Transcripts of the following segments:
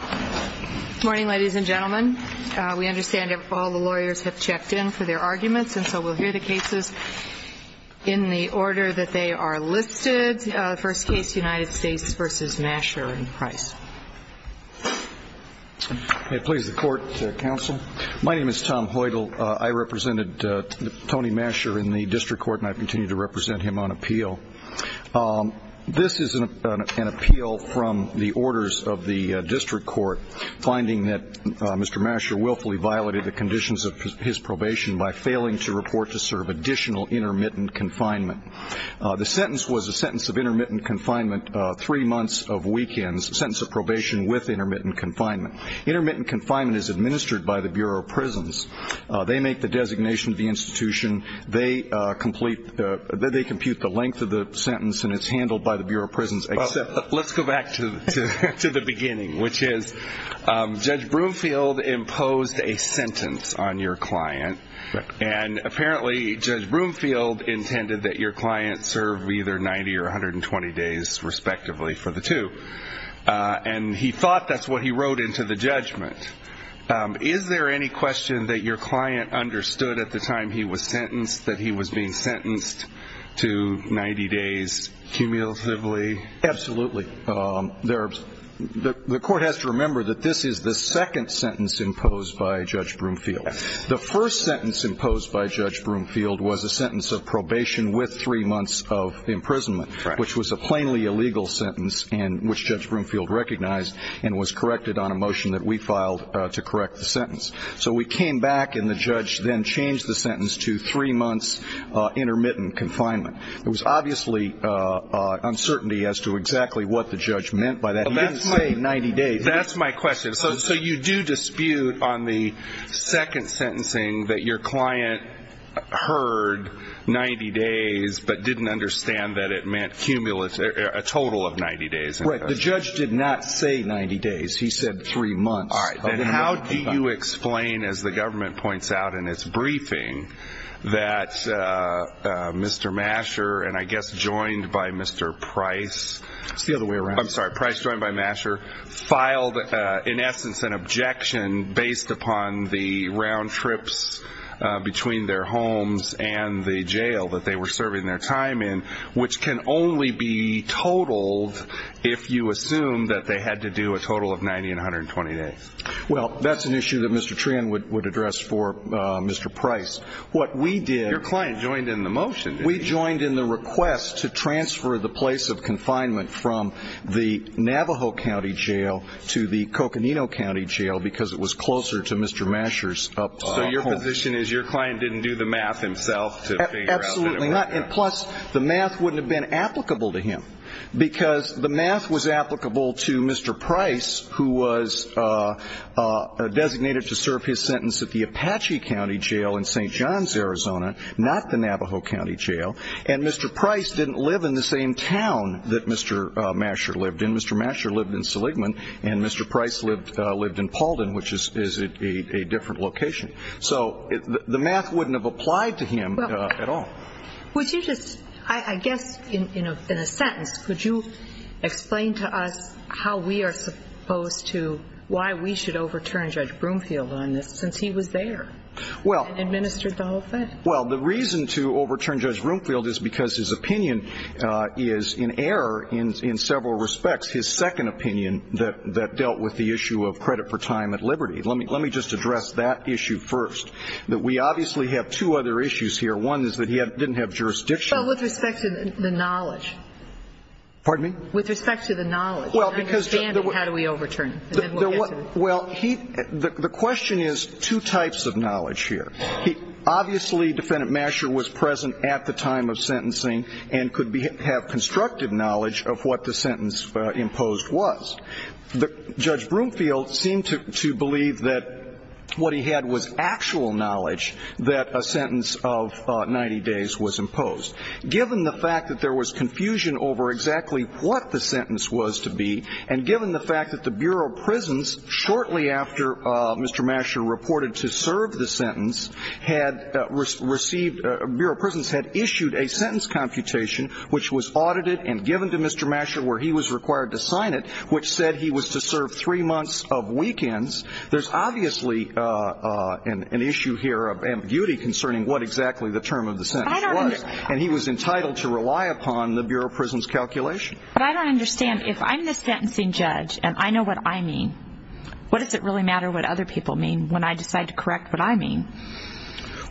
Good morning, ladies and gentlemen. We understand all the lawyers have checked in for their arguments, and so we'll hear the cases in the order that they are listed. First case, United States v. MASCHER and PRICE. May it please the Court, Counsel? My name is Tom Hoidle. I represented Tony Mascher in the District Court, and I continue to represent him on appeal. This is an appeal from the orders of the District Court, finding that Mr. Mascher willfully violated the conditions of his probation by failing to report to serve additional intermittent confinement. The sentence was a sentence of intermittent confinement, three months of weekends, a sentence of probation with intermittent confinement. Intermittent confinement is administered by the Bureau of Prisons. They make the designation of the institution. They compute the length of the sentence, and it's handled by the Bureau of Prisons. Let's go back to the beginning, which is Judge Broomfield imposed a sentence on your client. Apparently, Judge Broomfield intended that your client serve either 90 or 120 days, respectively, for the two. He thought that's what he wrote into the judgment. Is there any question that your client understood at the time he was sentenced that he was being sentenced to 90 days cumulatively? Absolutely. The court has to remember that this is the second sentence imposed by Judge Broomfield. The first sentence imposed by Judge Broomfield was a sentence of probation with three months of imprisonment, which was a plainly illegal sentence, which Judge Broomfield recognized and was corrected on a motion that we filed to correct the sentence. So we came back, and the judge then changed the sentence to three months intermittent confinement. There was obviously uncertainty as to exactly what the judge meant by that. He didn't say 90 days. That's my question. So you do dispute on the second sentencing that your client heard 90 days but didn't understand that it meant cumulative, a total of 90 days. Right. The judge did not say 90 days. He said three months. Then how do you explain, as the government points out in its briefing, that Mr. Masher and I guess joined by Mr. Price... It's the other way around. I'm sorry. Price joined by Masher filed, in essence, an objection based upon the round trips between their homes and the jail that they were serving their time in, which can only be totaled if you assume that they had to do a total of 90 and 120 days. Well, that's an issue that Mr. Treon would address for Mr. Price. What we did... Your client joined in the motion, didn't he? We joined in the request to transfer the place of confinement from the Navajo County Jail to the Coconino County Jail because it was closer to Mr. Masher's home. So your position is your client didn't do the math himself to figure out... Absolutely not. And plus, the math wouldn't have been applicable to him because the math was applicable to Mr. Price, who was designated to serve his sentence at the Apache County Jail in St. John's, Arizona, not the Navajo County Jail. And Mr. Price didn't live in the same town that Mr. Masher lived in. Mr. Masher lived in Seligman and Mr. Price lived in Pauldin, which is a different location. So the math wouldn't have applied to him at all. Would you just, I guess, in a sentence, could you explain to us how we are supposed to, why we should overturn Judge Broomfield on this since he was there and administered the whole thing? Well, the reason to overturn Judge Broomfield is because his opinion is in error in several respects, his second opinion that dealt with the issue of credit for time at liberty. Let me just address that issue first, that we obviously have two other issues here. One is that he didn't have jurisdiction. But with respect to the knowledge. Pardon me? With respect to the knowledge and understanding, how do we overturn? Well, the question is two types of knowledge here. Obviously, Defendant Masher was present at the time of sentencing and could have constructive knowledge of what the sentence imposed was. Judge Broomfield seemed to believe that what he had was actual knowledge that a sentence of 90 days was imposed. Given the fact that there was confusion over exactly what the sentence was to be, and given the fact that the Bureau of Prisons, shortly after Mr. Masher reported to serve the sentence, had received, Bureau of Prisons had issued a sentence computation which was audited and given to Mr. Masher where he was required to sign it, which said he was to serve three months of weekends. There's obviously an issue here of ambiguity concerning what exactly the term of the sentence was. And he was entitled to rely upon the Bureau of Prisons calculation. But I don't understand. If I'm the sentencing judge and I know what I mean, what does it really matter what other people mean when I decide to correct what I mean?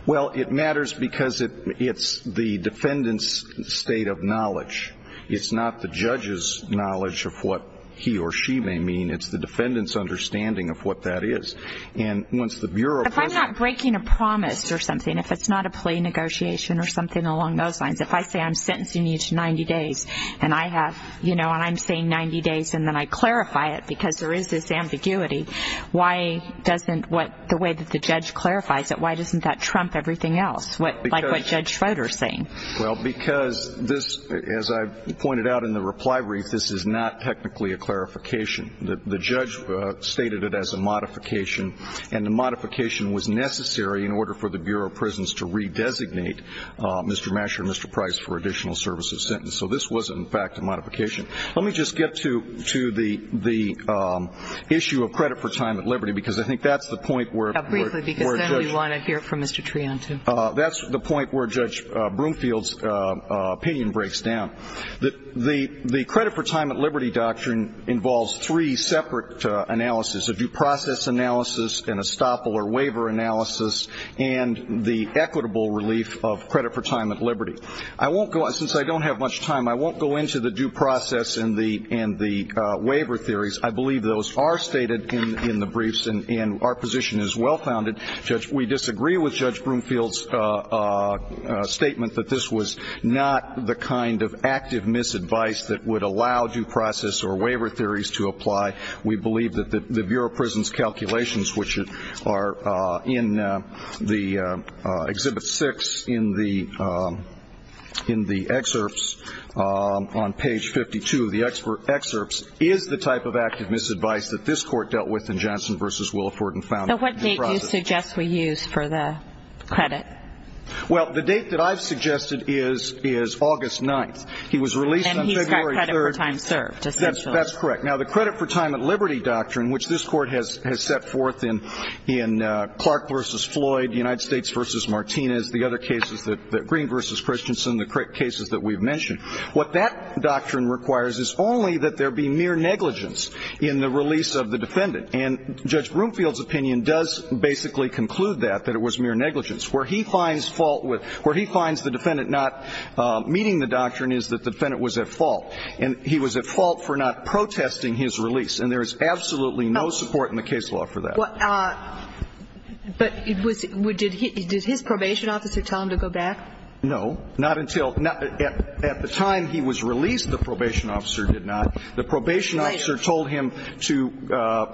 Well, it matters because it's the defendant's state of knowledge. It's not the judge's knowledge of what he or she may mean. It's the defendant's understanding of what that is. If I'm not breaking a promise or something, if it's not a plea negotiation or something along those lines, if I say I'm sentencing you to 90 days and I'm saying 90 days and then I clarify it because there is this ambiguity, why doesn't the way that the judge clarifies it, why doesn't that trump everything else? Like what Judge Schroeder is saying. Well, because this, as I pointed out in the reply brief, this is not technically a clarification. The judge stated it as a modification, and the modification was necessary in order for the Bureau of Prisons to redesignate Mr. Masher and Mr. Price for additional service of sentence. So this was, in fact, a modification. Let me just get to the issue of credit for time at liberty, because I think that's the point where the judge. Briefly, because then we want to hear from Mr. Trion, too. That's the point where Judge Broomfield's opinion breaks down. The credit for time at liberty doctrine involves three separate analyses, a due process analysis and a stopple or waiver analysis and the equitable relief of credit for time at liberty. Since I don't have much time, I won't go into the due process and the waiver theories. I believe those are stated in the briefs, and our position is well-founded. We disagree with Judge Broomfield's statement that this was not the kind of active misadvice that would allow due process or waiver theories to apply. We believe that the Bureau of Prisons calculations, which are in the Exhibit 6 in the excerpts on page 52 of the excerpts, is the type of active misadvice that this Court dealt with in Johnson v. Williford and found due process. So what date do you suggest we use for the credit? Well, the date that I've suggested is August 9th. He was released on February 3rd. And he's got credit for time served, essentially. That's correct. Now, the credit for time at liberty doctrine, which this Court has set forth in Clark v. Floyd, United States v. Martinez, the other cases, Green v. Christensen, the cases that we've mentioned, what that doctrine requires is only that there be mere negligence in the release of the defendant. And Judge Broomfield's opinion does basically conclude that, that it was mere negligence. Where he finds fault with – where he finds the defendant not meeting the doctrine is that the defendant was at fault. And he was at fault for not protesting his release. And there is absolutely no support in the case law for that. But it was – did his probation officer tell him to go back? No. Not until – at the time he was released, the probation officer did not. The probation officer told him to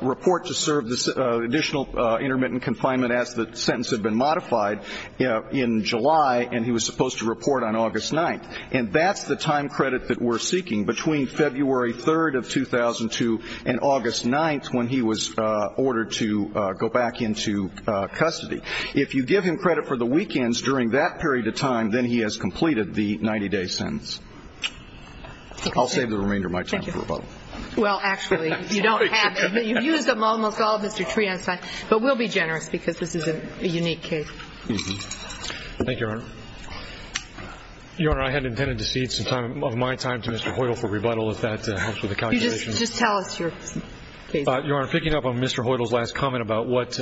report to serve additional intermittent confinement as the sentence had been modified in July, and he was supposed to report on August 9th. And that's the time credit that we're seeking between February 3rd of 2002 and August 9th when he was ordered to go back into custody. If you give him credit for the weekends during that period of time, then he has completed the 90-day sentence. I'll save the remainder of my time for a vote. Well, actually, you don't have to. You've used them almost all, Mr. Treonstein. But we'll be generous because this is a unique case. Thank you, Your Honor. Your Honor, I had intended to cede some of my time to Mr. Hoyle for rebuttal if that helps with the calculation. Just tell us your case. Your Honor, picking up on Mr. Hoyle's last comment about what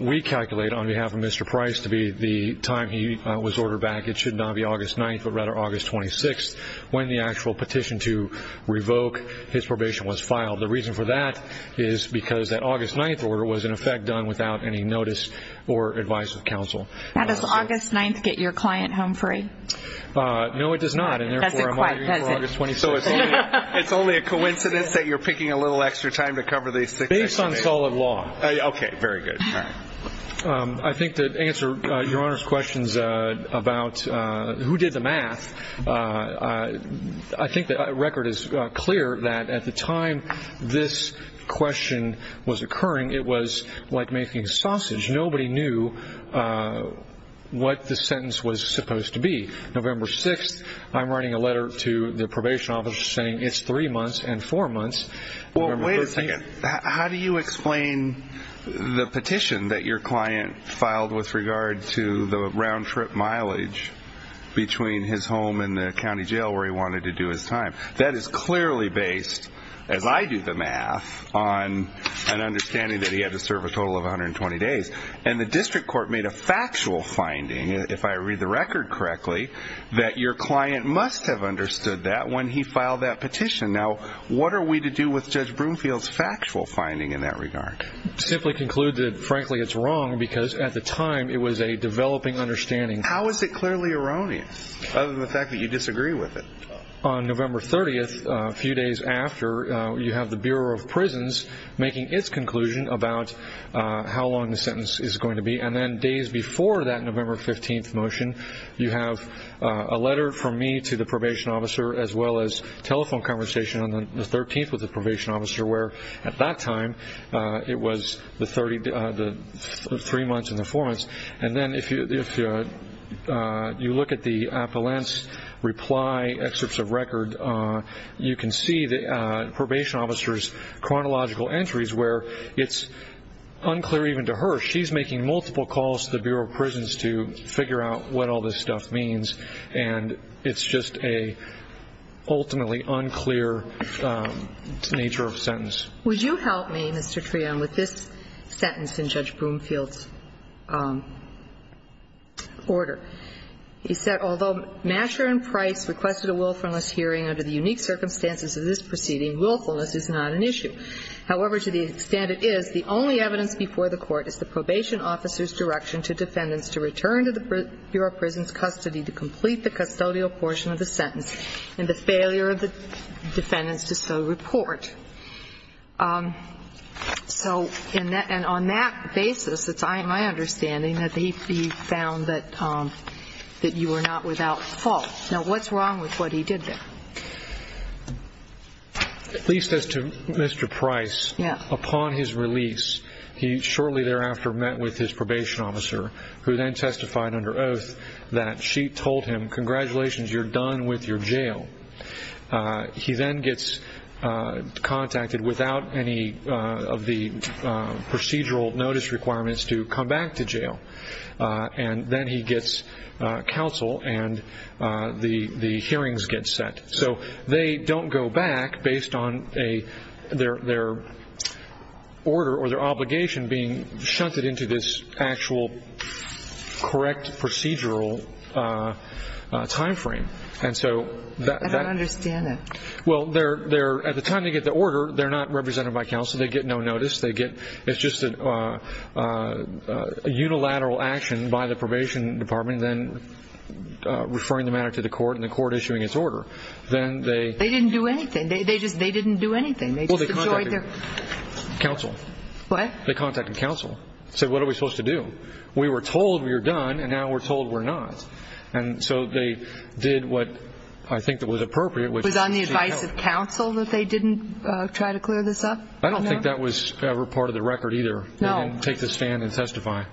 we calculate on behalf of Mr. Price to be the time he was ordered back, it should not be August 9th, but rather August 26th, when the actual petition to revoke his probation was filed. The reason for that is because that August 9th order was, in effect, done without any notice or advice of counsel. Now, does August 9th get your client home free? No, it does not, and, therefore, I'm arguing for August 26th. So it's only a coincidence that you're picking a little extra time to cover these things? Based on solid law. Okay, very good. I think to answer Your Honor's questions about who did the math, I think the record is clear that at the time this question was occurring, it was like making sausage. Nobody knew what the sentence was supposed to be. November 6th, I'm writing a letter to the probation officer saying it's three months and four months. Well, wait a second. How do you explain the petition that your client filed with regard to the round-trip mileage between his home and the county jail where he wanted to do his time? That is clearly based, as I do the math, on an understanding that he had to serve a total of 120 days. And the district court made a factual finding, if I read the record correctly, that your client must have understood that when he filed that petition. Now, what are we to do with Judge Broomfield's factual finding in that regard? Simply conclude that, frankly, it's wrong because at the time it was a developing understanding. How is it clearly erroneous, other than the fact that you disagree with it? On November 30th, a few days after, you have the Bureau of Prisons making its conclusion about how long the sentence is going to be. And then days before that November 15th motion, you have a letter from me to the probation officer as well as telephone conversation on the 13th with the probation officer, where at that time it was the three months and the four months. And then if you look at the appellant's reply excerpts of record, you can see the probation officer's chronological entries where it's unclear even to her. She's making multiple calls to the Bureau of Prisons to figure out what all this stuff means, and it's just an ultimately unclear nature of a sentence. Would you help me, Mr. Treon, with this sentence in Judge Broomfield's order? He said, Although Masher and Price requested a willfulness hearing under the unique circumstances of this proceeding, willfulness is not an issue. However, to the extent it is, the only evidence before the Court is the probation officer's direction to defendants to return to the Bureau of Prisons' custody to complete the custodial portion of the sentence and the failure of the defendants to so report. And on that basis, it's my understanding that he found that you were not without fault. Now, what's wrong with what he did there? At least as to Mr. Price, upon his release, he shortly thereafter met with his probation officer, who then testified under oath that she told him, Congratulations, you're done with your jail. He then gets contacted without any of the procedural notice requirements to come back to jail, and then he gets counsel and the hearings get set. So they don't go back based on their order or their obligation being shunted into this actual correct procedural time frame. I don't understand it. Well, at the time they get the order, they're not represented by counsel. They get no notice. It's just a unilateral action by the probation department, then referring the matter to the Court and the Court issuing its order. They didn't do anything. They just didn't do anything. Well, they contacted counsel. What? They contacted counsel and said, What are we supposed to do? We were told we were done, and now we're told we're not. And so they did what I think was appropriate. It was on the advice of counsel that they didn't try to clear this up? I don't think that was ever part of the record either. No. They didn't take the stand and testify.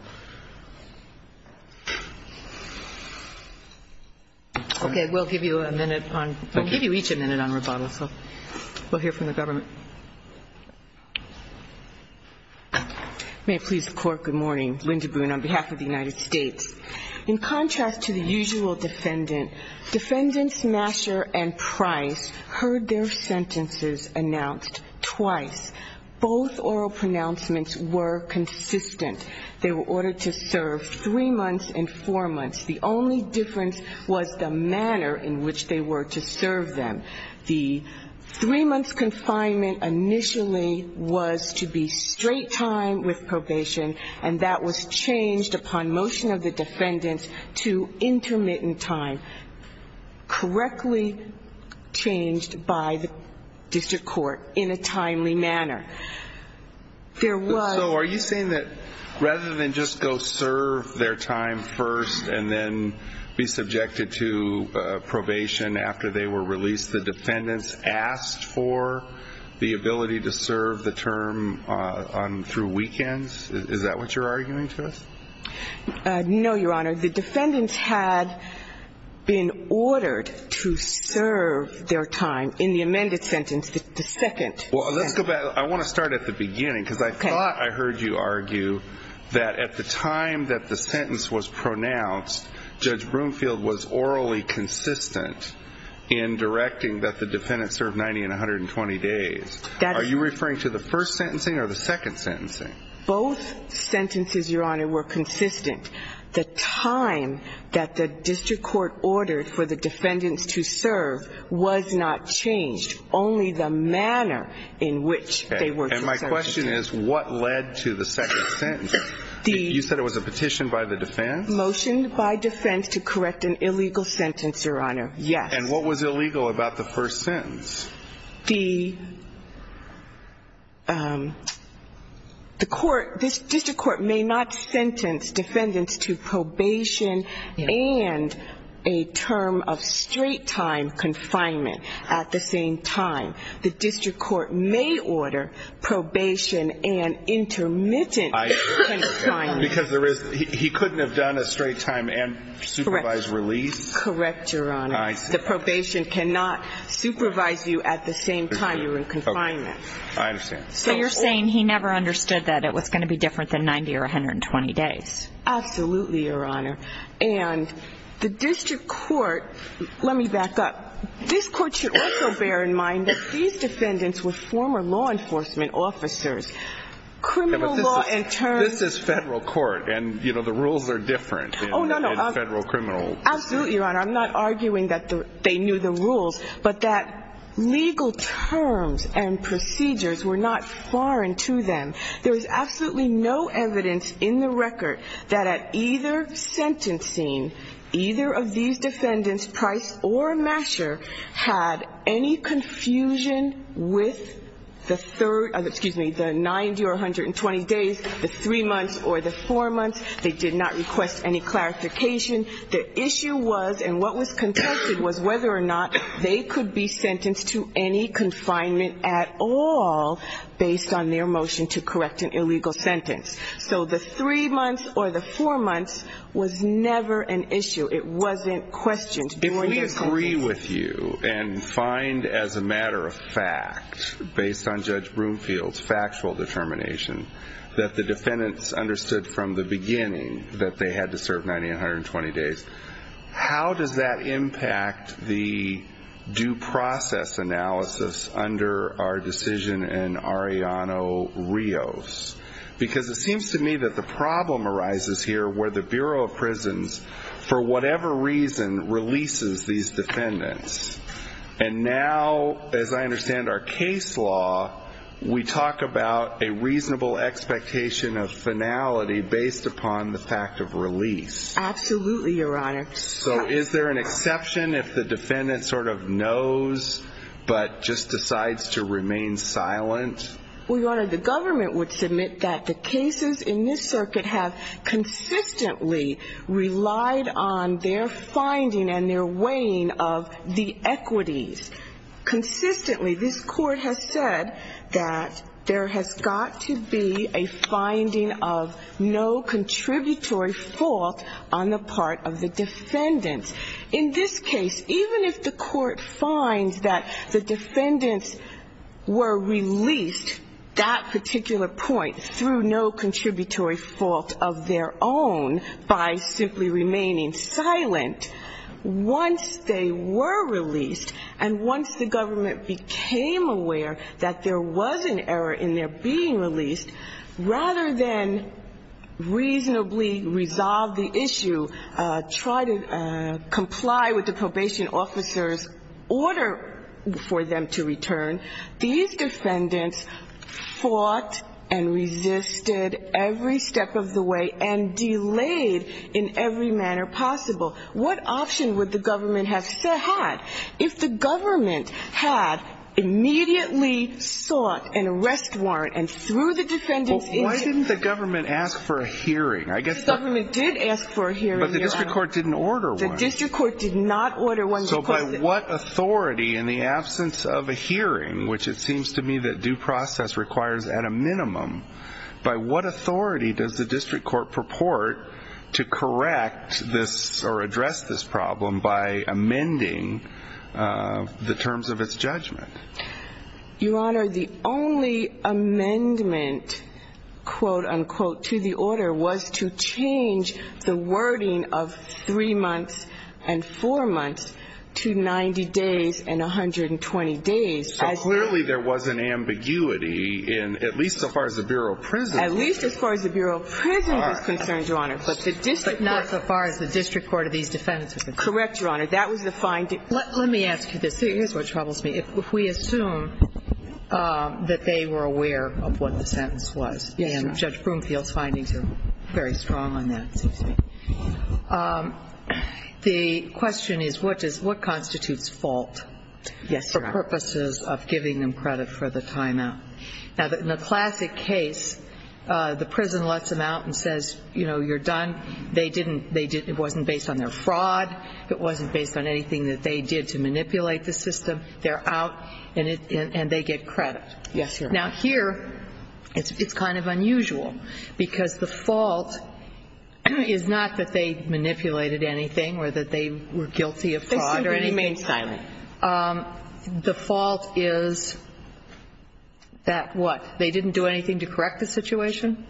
Okay. We'll give you a minute. We'll give you each a minute on rebuttal. We'll hear from the government. May it please the Court, good morning. Linda Boone on behalf of the United States. In contrast to the usual defendant, defendant Smasher and Price heard their sentences announced twice. Both oral pronouncements were consistent. They were ordered to serve three months and four months. The only difference was the manner in which they were to serve them. The three-month confinement initially was to be straight time with probation, and that was changed upon motion of the defendants to intermittent time, correctly changed by the district court in a timely manner. So are you saying that rather than just go serve their time first and then be subjected to probation after they were released, the defendants asked for the ability to serve the term through weekends? Is that what you're arguing to us? No, Your Honor. The defendants had been ordered to serve their time in the amended sentence, the second sentence. Well, let's go back. I want to start at the beginning because I thought I heard you argue that at the time that the sentence was pronounced, Judge Broomfield was orally consistent in directing that the defendants serve 90 and 120 days. Are you referring to the first sentencing or the second sentencing? Both sentences, Your Honor, were consistent. The time that the district court ordered for the defendants to serve was not changed, only the manner in which they were to serve. And my question is what led to the second sentence? You said it was a petition by the defense? I have motioned by defense to correct an illegal sentence, Your Honor, yes. And what was illegal about the first sentence? The court, this district court may not sentence defendants to probation and a term of straight time confinement at the same time. The district court may order probation and intermittent confinement. Because he couldn't have done a straight time and supervised release? Correct, Your Honor. I see. The probation cannot supervise you at the same time you're in confinement. I understand. So you're saying he never understood that it was going to be different than 90 or 120 days. Absolutely, Your Honor. And the district court, let me back up, this court should also bear in mind that these defendants were former law enforcement officers, criminal law in turn. This is federal court, and, you know, the rules are different in federal criminal. Absolutely, Your Honor. I'm not arguing that they knew the rules, but that legal terms and procedures were not foreign to them. There is absolutely no evidence in the record that at either sentencing, either of these defendants, Price or Masher, had any confusion with the 90 or 120 days, the three months or the four months. They did not request any clarification. The issue was, and what was contested, was whether or not they could be sentenced to any confinement at all based on their motion to correct an illegal sentence. So the three months or the four months was never an issue. It wasn't questioned. If we agree with you and find as a matter of fact, based on Judge Broomfield's factual determination, that the defendants understood from the beginning that they had to serve 90 or 120 days, how does that impact the due process analysis under our decision in Arellano-Rios? Because it seems to me that the problem arises here where the Bureau of Prisons, for whatever reason, releases these defendants. And now, as I understand our case law, we talk about a reasonable expectation of finality based upon the fact of release. Absolutely, Your Honor. So is there an exception if the defendant sort of knows but just decides to remain silent? Well, Your Honor, the government would submit that the cases in this circuit have consistently relied on their finding and their weighing of the equities. Consistently, this Court has said that there has got to be a finding of no contributory fault on the part of the defendants. In this case, even if the Court finds that the defendants were released, that particular point, through no contributory fault of their own by simply remaining silent, once they were released and once the government became aware that there was an error in their being released, rather than reasonably resolve the issue, try to comply with the probation officer's order for them to return, these defendants fought and resisted every step of the way and delayed in every manner possible. What option would the government have had if the government had immediately sought an arrest warrant and through the defendants... But why didn't the government ask for a hearing? The government did ask for a hearing, Your Honor. But the district court didn't order one. The district court did not order one. So by what authority, in the absence of a hearing, which it seems to me that due process requires at a minimum, by what authority does the district court purport to correct this or address this problem by amending the terms of its judgment? Your Honor, the only amendment, quote, unquote, to the order was to change the wording of three months and four months to 90 days and 120 days. So clearly there was an ambiguity in at least so far as the Bureau of Prisons is concerned. At least as far as the Bureau of Prisons is concerned, Your Honor. But not so far as the district court of these defendants is concerned. Correct, Your Honor. That was the fine... Let me ask you this. Here's what troubles me. If we assume that they were aware of what the sentence was, and Judge Broomfield's findings are very strong on that, it seems to me, the question is what constitutes fault for purposes of giving them credit for the time out? Now, in a classic case, the prison lets them out and says, you know, you're done. It wasn't based on their fraud. It wasn't based on anything that they did to manipulate the system. They're out, and they get credit. Yes, Your Honor. Now, here it's kind of unusual because the fault is not that they manipulated anything or that they were guilty of fraud or anything. They simply remained silent. The fault is that what? They didn't do anything to correct the situation?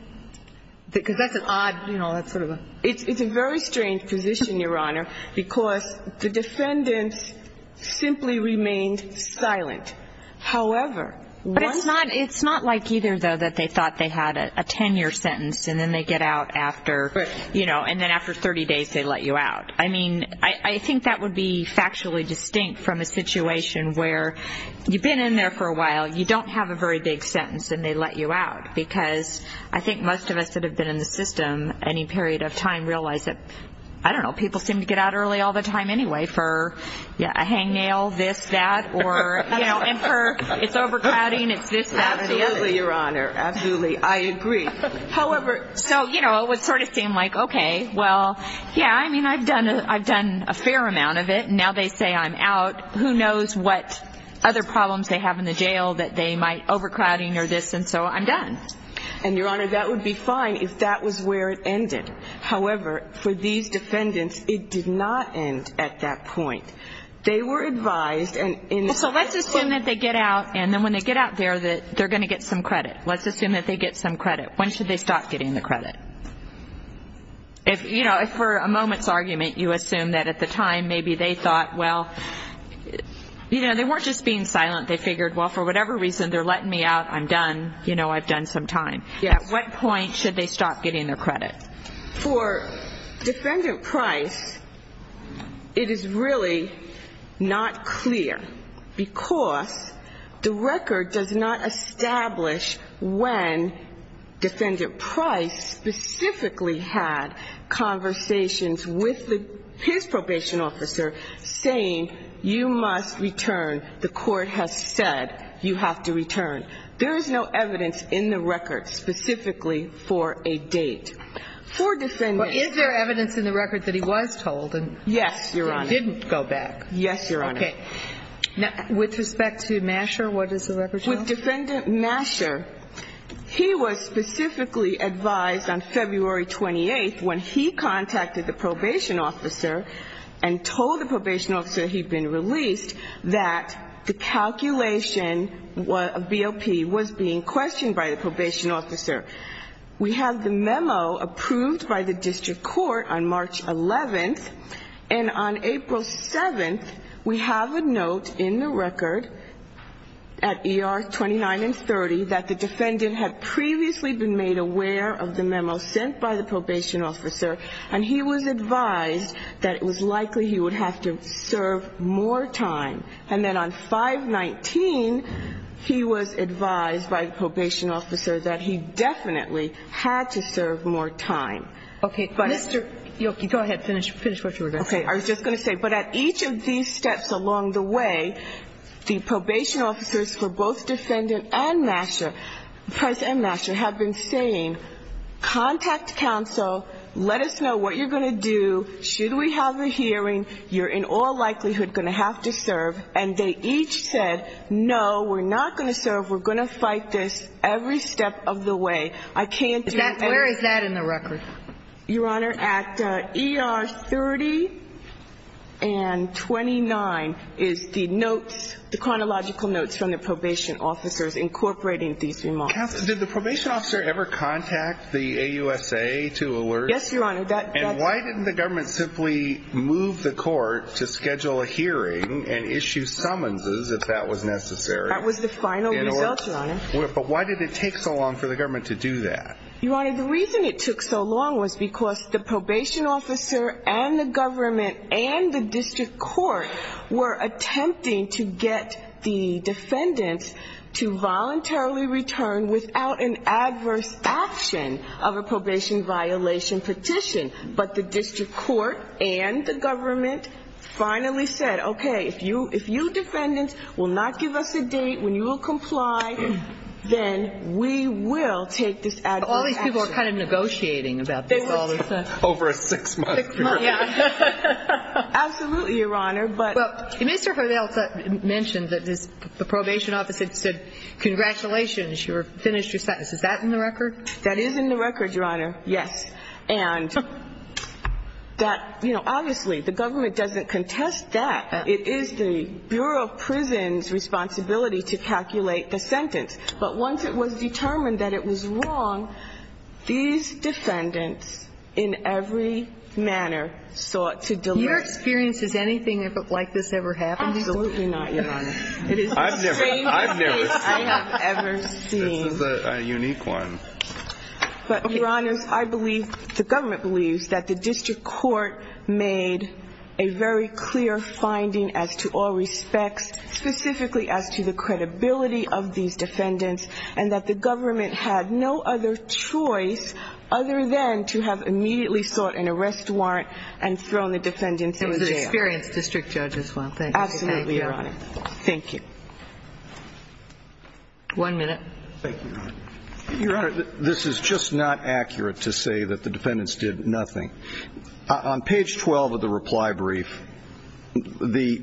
Because that's an odd, you know, that's sort of a... It's a very strange position, Your Honor, because the defendants simply remained silent. However, once... But it's not like either, though, that they thought they had a 10-year sentence and then they get out after, you know, and then after 30 days they let you out. I mean, I think that would be factually distinct from a situation where you've been in there for a while, you don't have a very big sentence, and they let you out because I think most of us that have been in the system any period of time realize that, I don't know, people seem to get out early all the time anyway for a hangnail, this, that, or, you know, it's overcrowding, it's this, that. Absolutely, Your Honor. Absolutely. I agree. However, so, you know, it would sort of seem like, okay, well, yeah, I mean, I've done a fair amount of it and now they say I'm out. Who knows what other problems they have in the jail that they might overcrowding or this, and so I'm done. And, Your Honor, that would be fine if that was where it ended. However, for these defendants, it did not end at that point. They were advised and in this case... So let's assume that they get out, and then when they get out there, they're going to get some credit. Let's assume that they get some credit. When should they stop getting the credit? If, you know, for a moment's argument, you assume that at the time maybe they thought, well, you know, they weren't just being silent, they figured, well, for whatever reason, they're letting me out, I'm done, you know, I've done some time. At what point should they stop getting their credit? For Defendant Price, it is really not clear because the record does not establish when Defendant Price specifically had conversations with his probation officer saying, you must return, the court has said you have to return. There is no evidence in the record specifically for a date. For Defendant... But is there evidence in the record that he was told? Yes, Your Honor. So he didn't go back. Yes, Your Honor. Okay. Now, with respect to Masher, what does the record show? With Defendant Masher, he was specifically advised on February 28th when he contacted the probation officer and told the probation officer he'd been released that the calculation of BOP was being questioned by the probation officer. We have the memo approved by the district court on March 11th, and on April 7th, we have a note in the record at ER 29 and 30 that the defendant had previously been made aware of the memo sent by the probation officer, and he was advised that it was likely he would have to serve more time. And then on 5-19, he was advised by the probation officer that he definitely had to serve more time. Okay. Mr. Yoki, go ahead. Finish what you were going to say. Okay. I was just going to say, but at each of these steps along the way, the probation officers for both Defendant and Masher, President Masher, have been saying, contact counsel, let us know what you're going to do, should we have a hearing, you're in all likelihood going to have to serve. And they each said, no, we're not going to serve, we're going to fight this every step of the way. I can't do anything else. Where is that in the record? Your Honor, at ER 30 and 29 is the notes, the chronological notes from the probation officers incorporating these remarks. Counsel, did the probation officer ever contact the AUSA to alert? Yes, Your Honor. And why didn't the government simply move the court to schedule a hearing and issue summonses if that was necessary? That was the final result, Your Honor. But why did it take so long for the government to do that? Your Honor, the reason it took so long was because the probation officer and the government and the district court were attempting to get the defendants to voluntarily return without an adverse action of a probation violation petition. But the district court and the government finally said, okay, if you defendants will not give us a date when you will comply, then we will take this adverse action. All these people are kind of negotiating about this all the time. Over a six-month period. Six months, yeah. Absolutely, Your Honor, but. Well, Mr. Hurtado mentioned that the probation officer said, congratulations, you've finished your sentence. Is that in the record? That is in the record, Your Honor, yes. And that, you know, obviously the government doesn't contest that. It is the Bureau of Prisons' responsibility to calculate the sentence. But once it was determined that it was wrong, these defendants in every manner sought to deliver. Your experience, has anything like this ever happened? Absolutely not, Your Honor. It is the strangest case I have ever seen. This is a unique one. But, Your Honor, I believe, the government believes that the district court made a very clear finding as to all respects, specifically as to the credibility of these defendants and that the government had no other choice other than to have immediately sought an arrest warrant and thrown the defendants in jail. It was an experienced district judge as well. Thank you. Absolutely, Your Honor. Thank you. One minute. Thank you, Your Honor. Your Honor, this is just not accurate to say that the defendants did nothing. On page 12 of the reply brief, Tony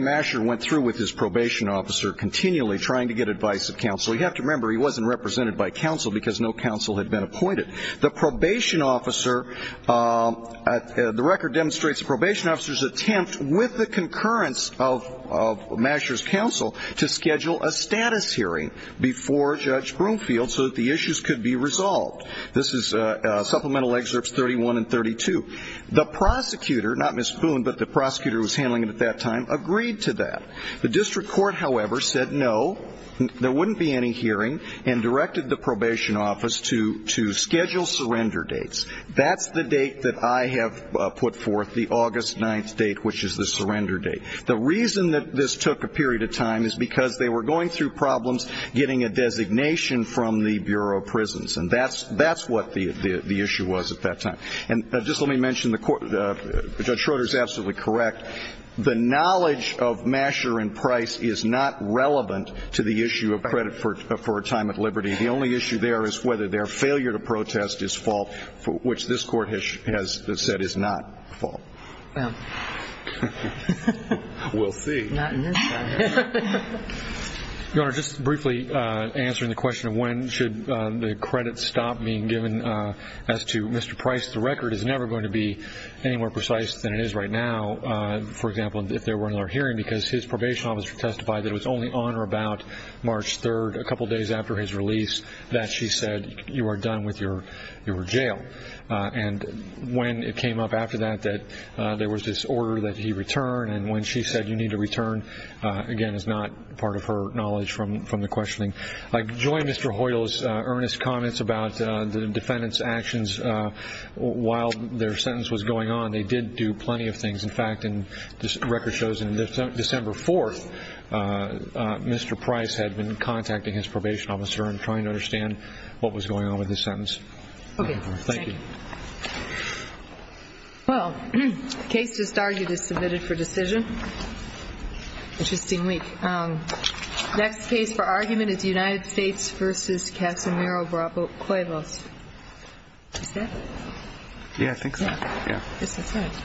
Masher went through with his probation officer continually trying to get advice of counsel. You have to remember, he wasn't represented by counsel because no counsel had been appointed. The probation officer, the record demonstrates the probation officer's attempt with the concurrence of Masher's counsel to schedule a status hearing before Judge Broomfield so that the issues could be resolved. This is Supplemental Excerpts 31 and 32. The prosecutor, not Ms. Boone, but the prosecutor who was handling it at that time, agreed to that. The district court, however, said no, there wouldn't be any hearing, and directed the probation office to schedule surrender dates. That's the date that I have put forth, the August 9th date, which is the surrender date. The reason that this took a period of time is because they were going through problems getting a designation from the Bureau of Prisons, and that's what the issue was at that time. And just let me mention, Judge Schroeder is absolutely correct. The knowledge of Masher and Price is not relevant to the issue of credit for a time at liberty. The only issue there is whether their failure to protest is fault, which this Court has said is not fault. We'll see. Your Honor, just briefly answering the question of when should the credit stop being given as to Mr. Price, the record is never going to be any more precise than it is right now, for example, if there were another hearing because his probation officer testified that it was only on or about March 3rd, a couple of days after his release, that she said, you are done with your jail. And when it came up after that that there was this order that he return, and when she said you need to return, again, is not part of her knowledge from the questioning. I join Mr. Hoyle's earnest comments about the defendant's actions while their sentence was going on. They did do plenty of things. In fact, the record shows that on December 4th, Mr. Price had been contacting his probation officer and trying to understand what was going on with his sentence. Okay. Thank you. Well, the case just argued is submitted for decision. Interesting week. Next case for argument is United States v. Casimiro Bravo Cuevas. Is that it? Yeah, I think so. Yeah. I guess that's it. Thank you. Oh, yeah.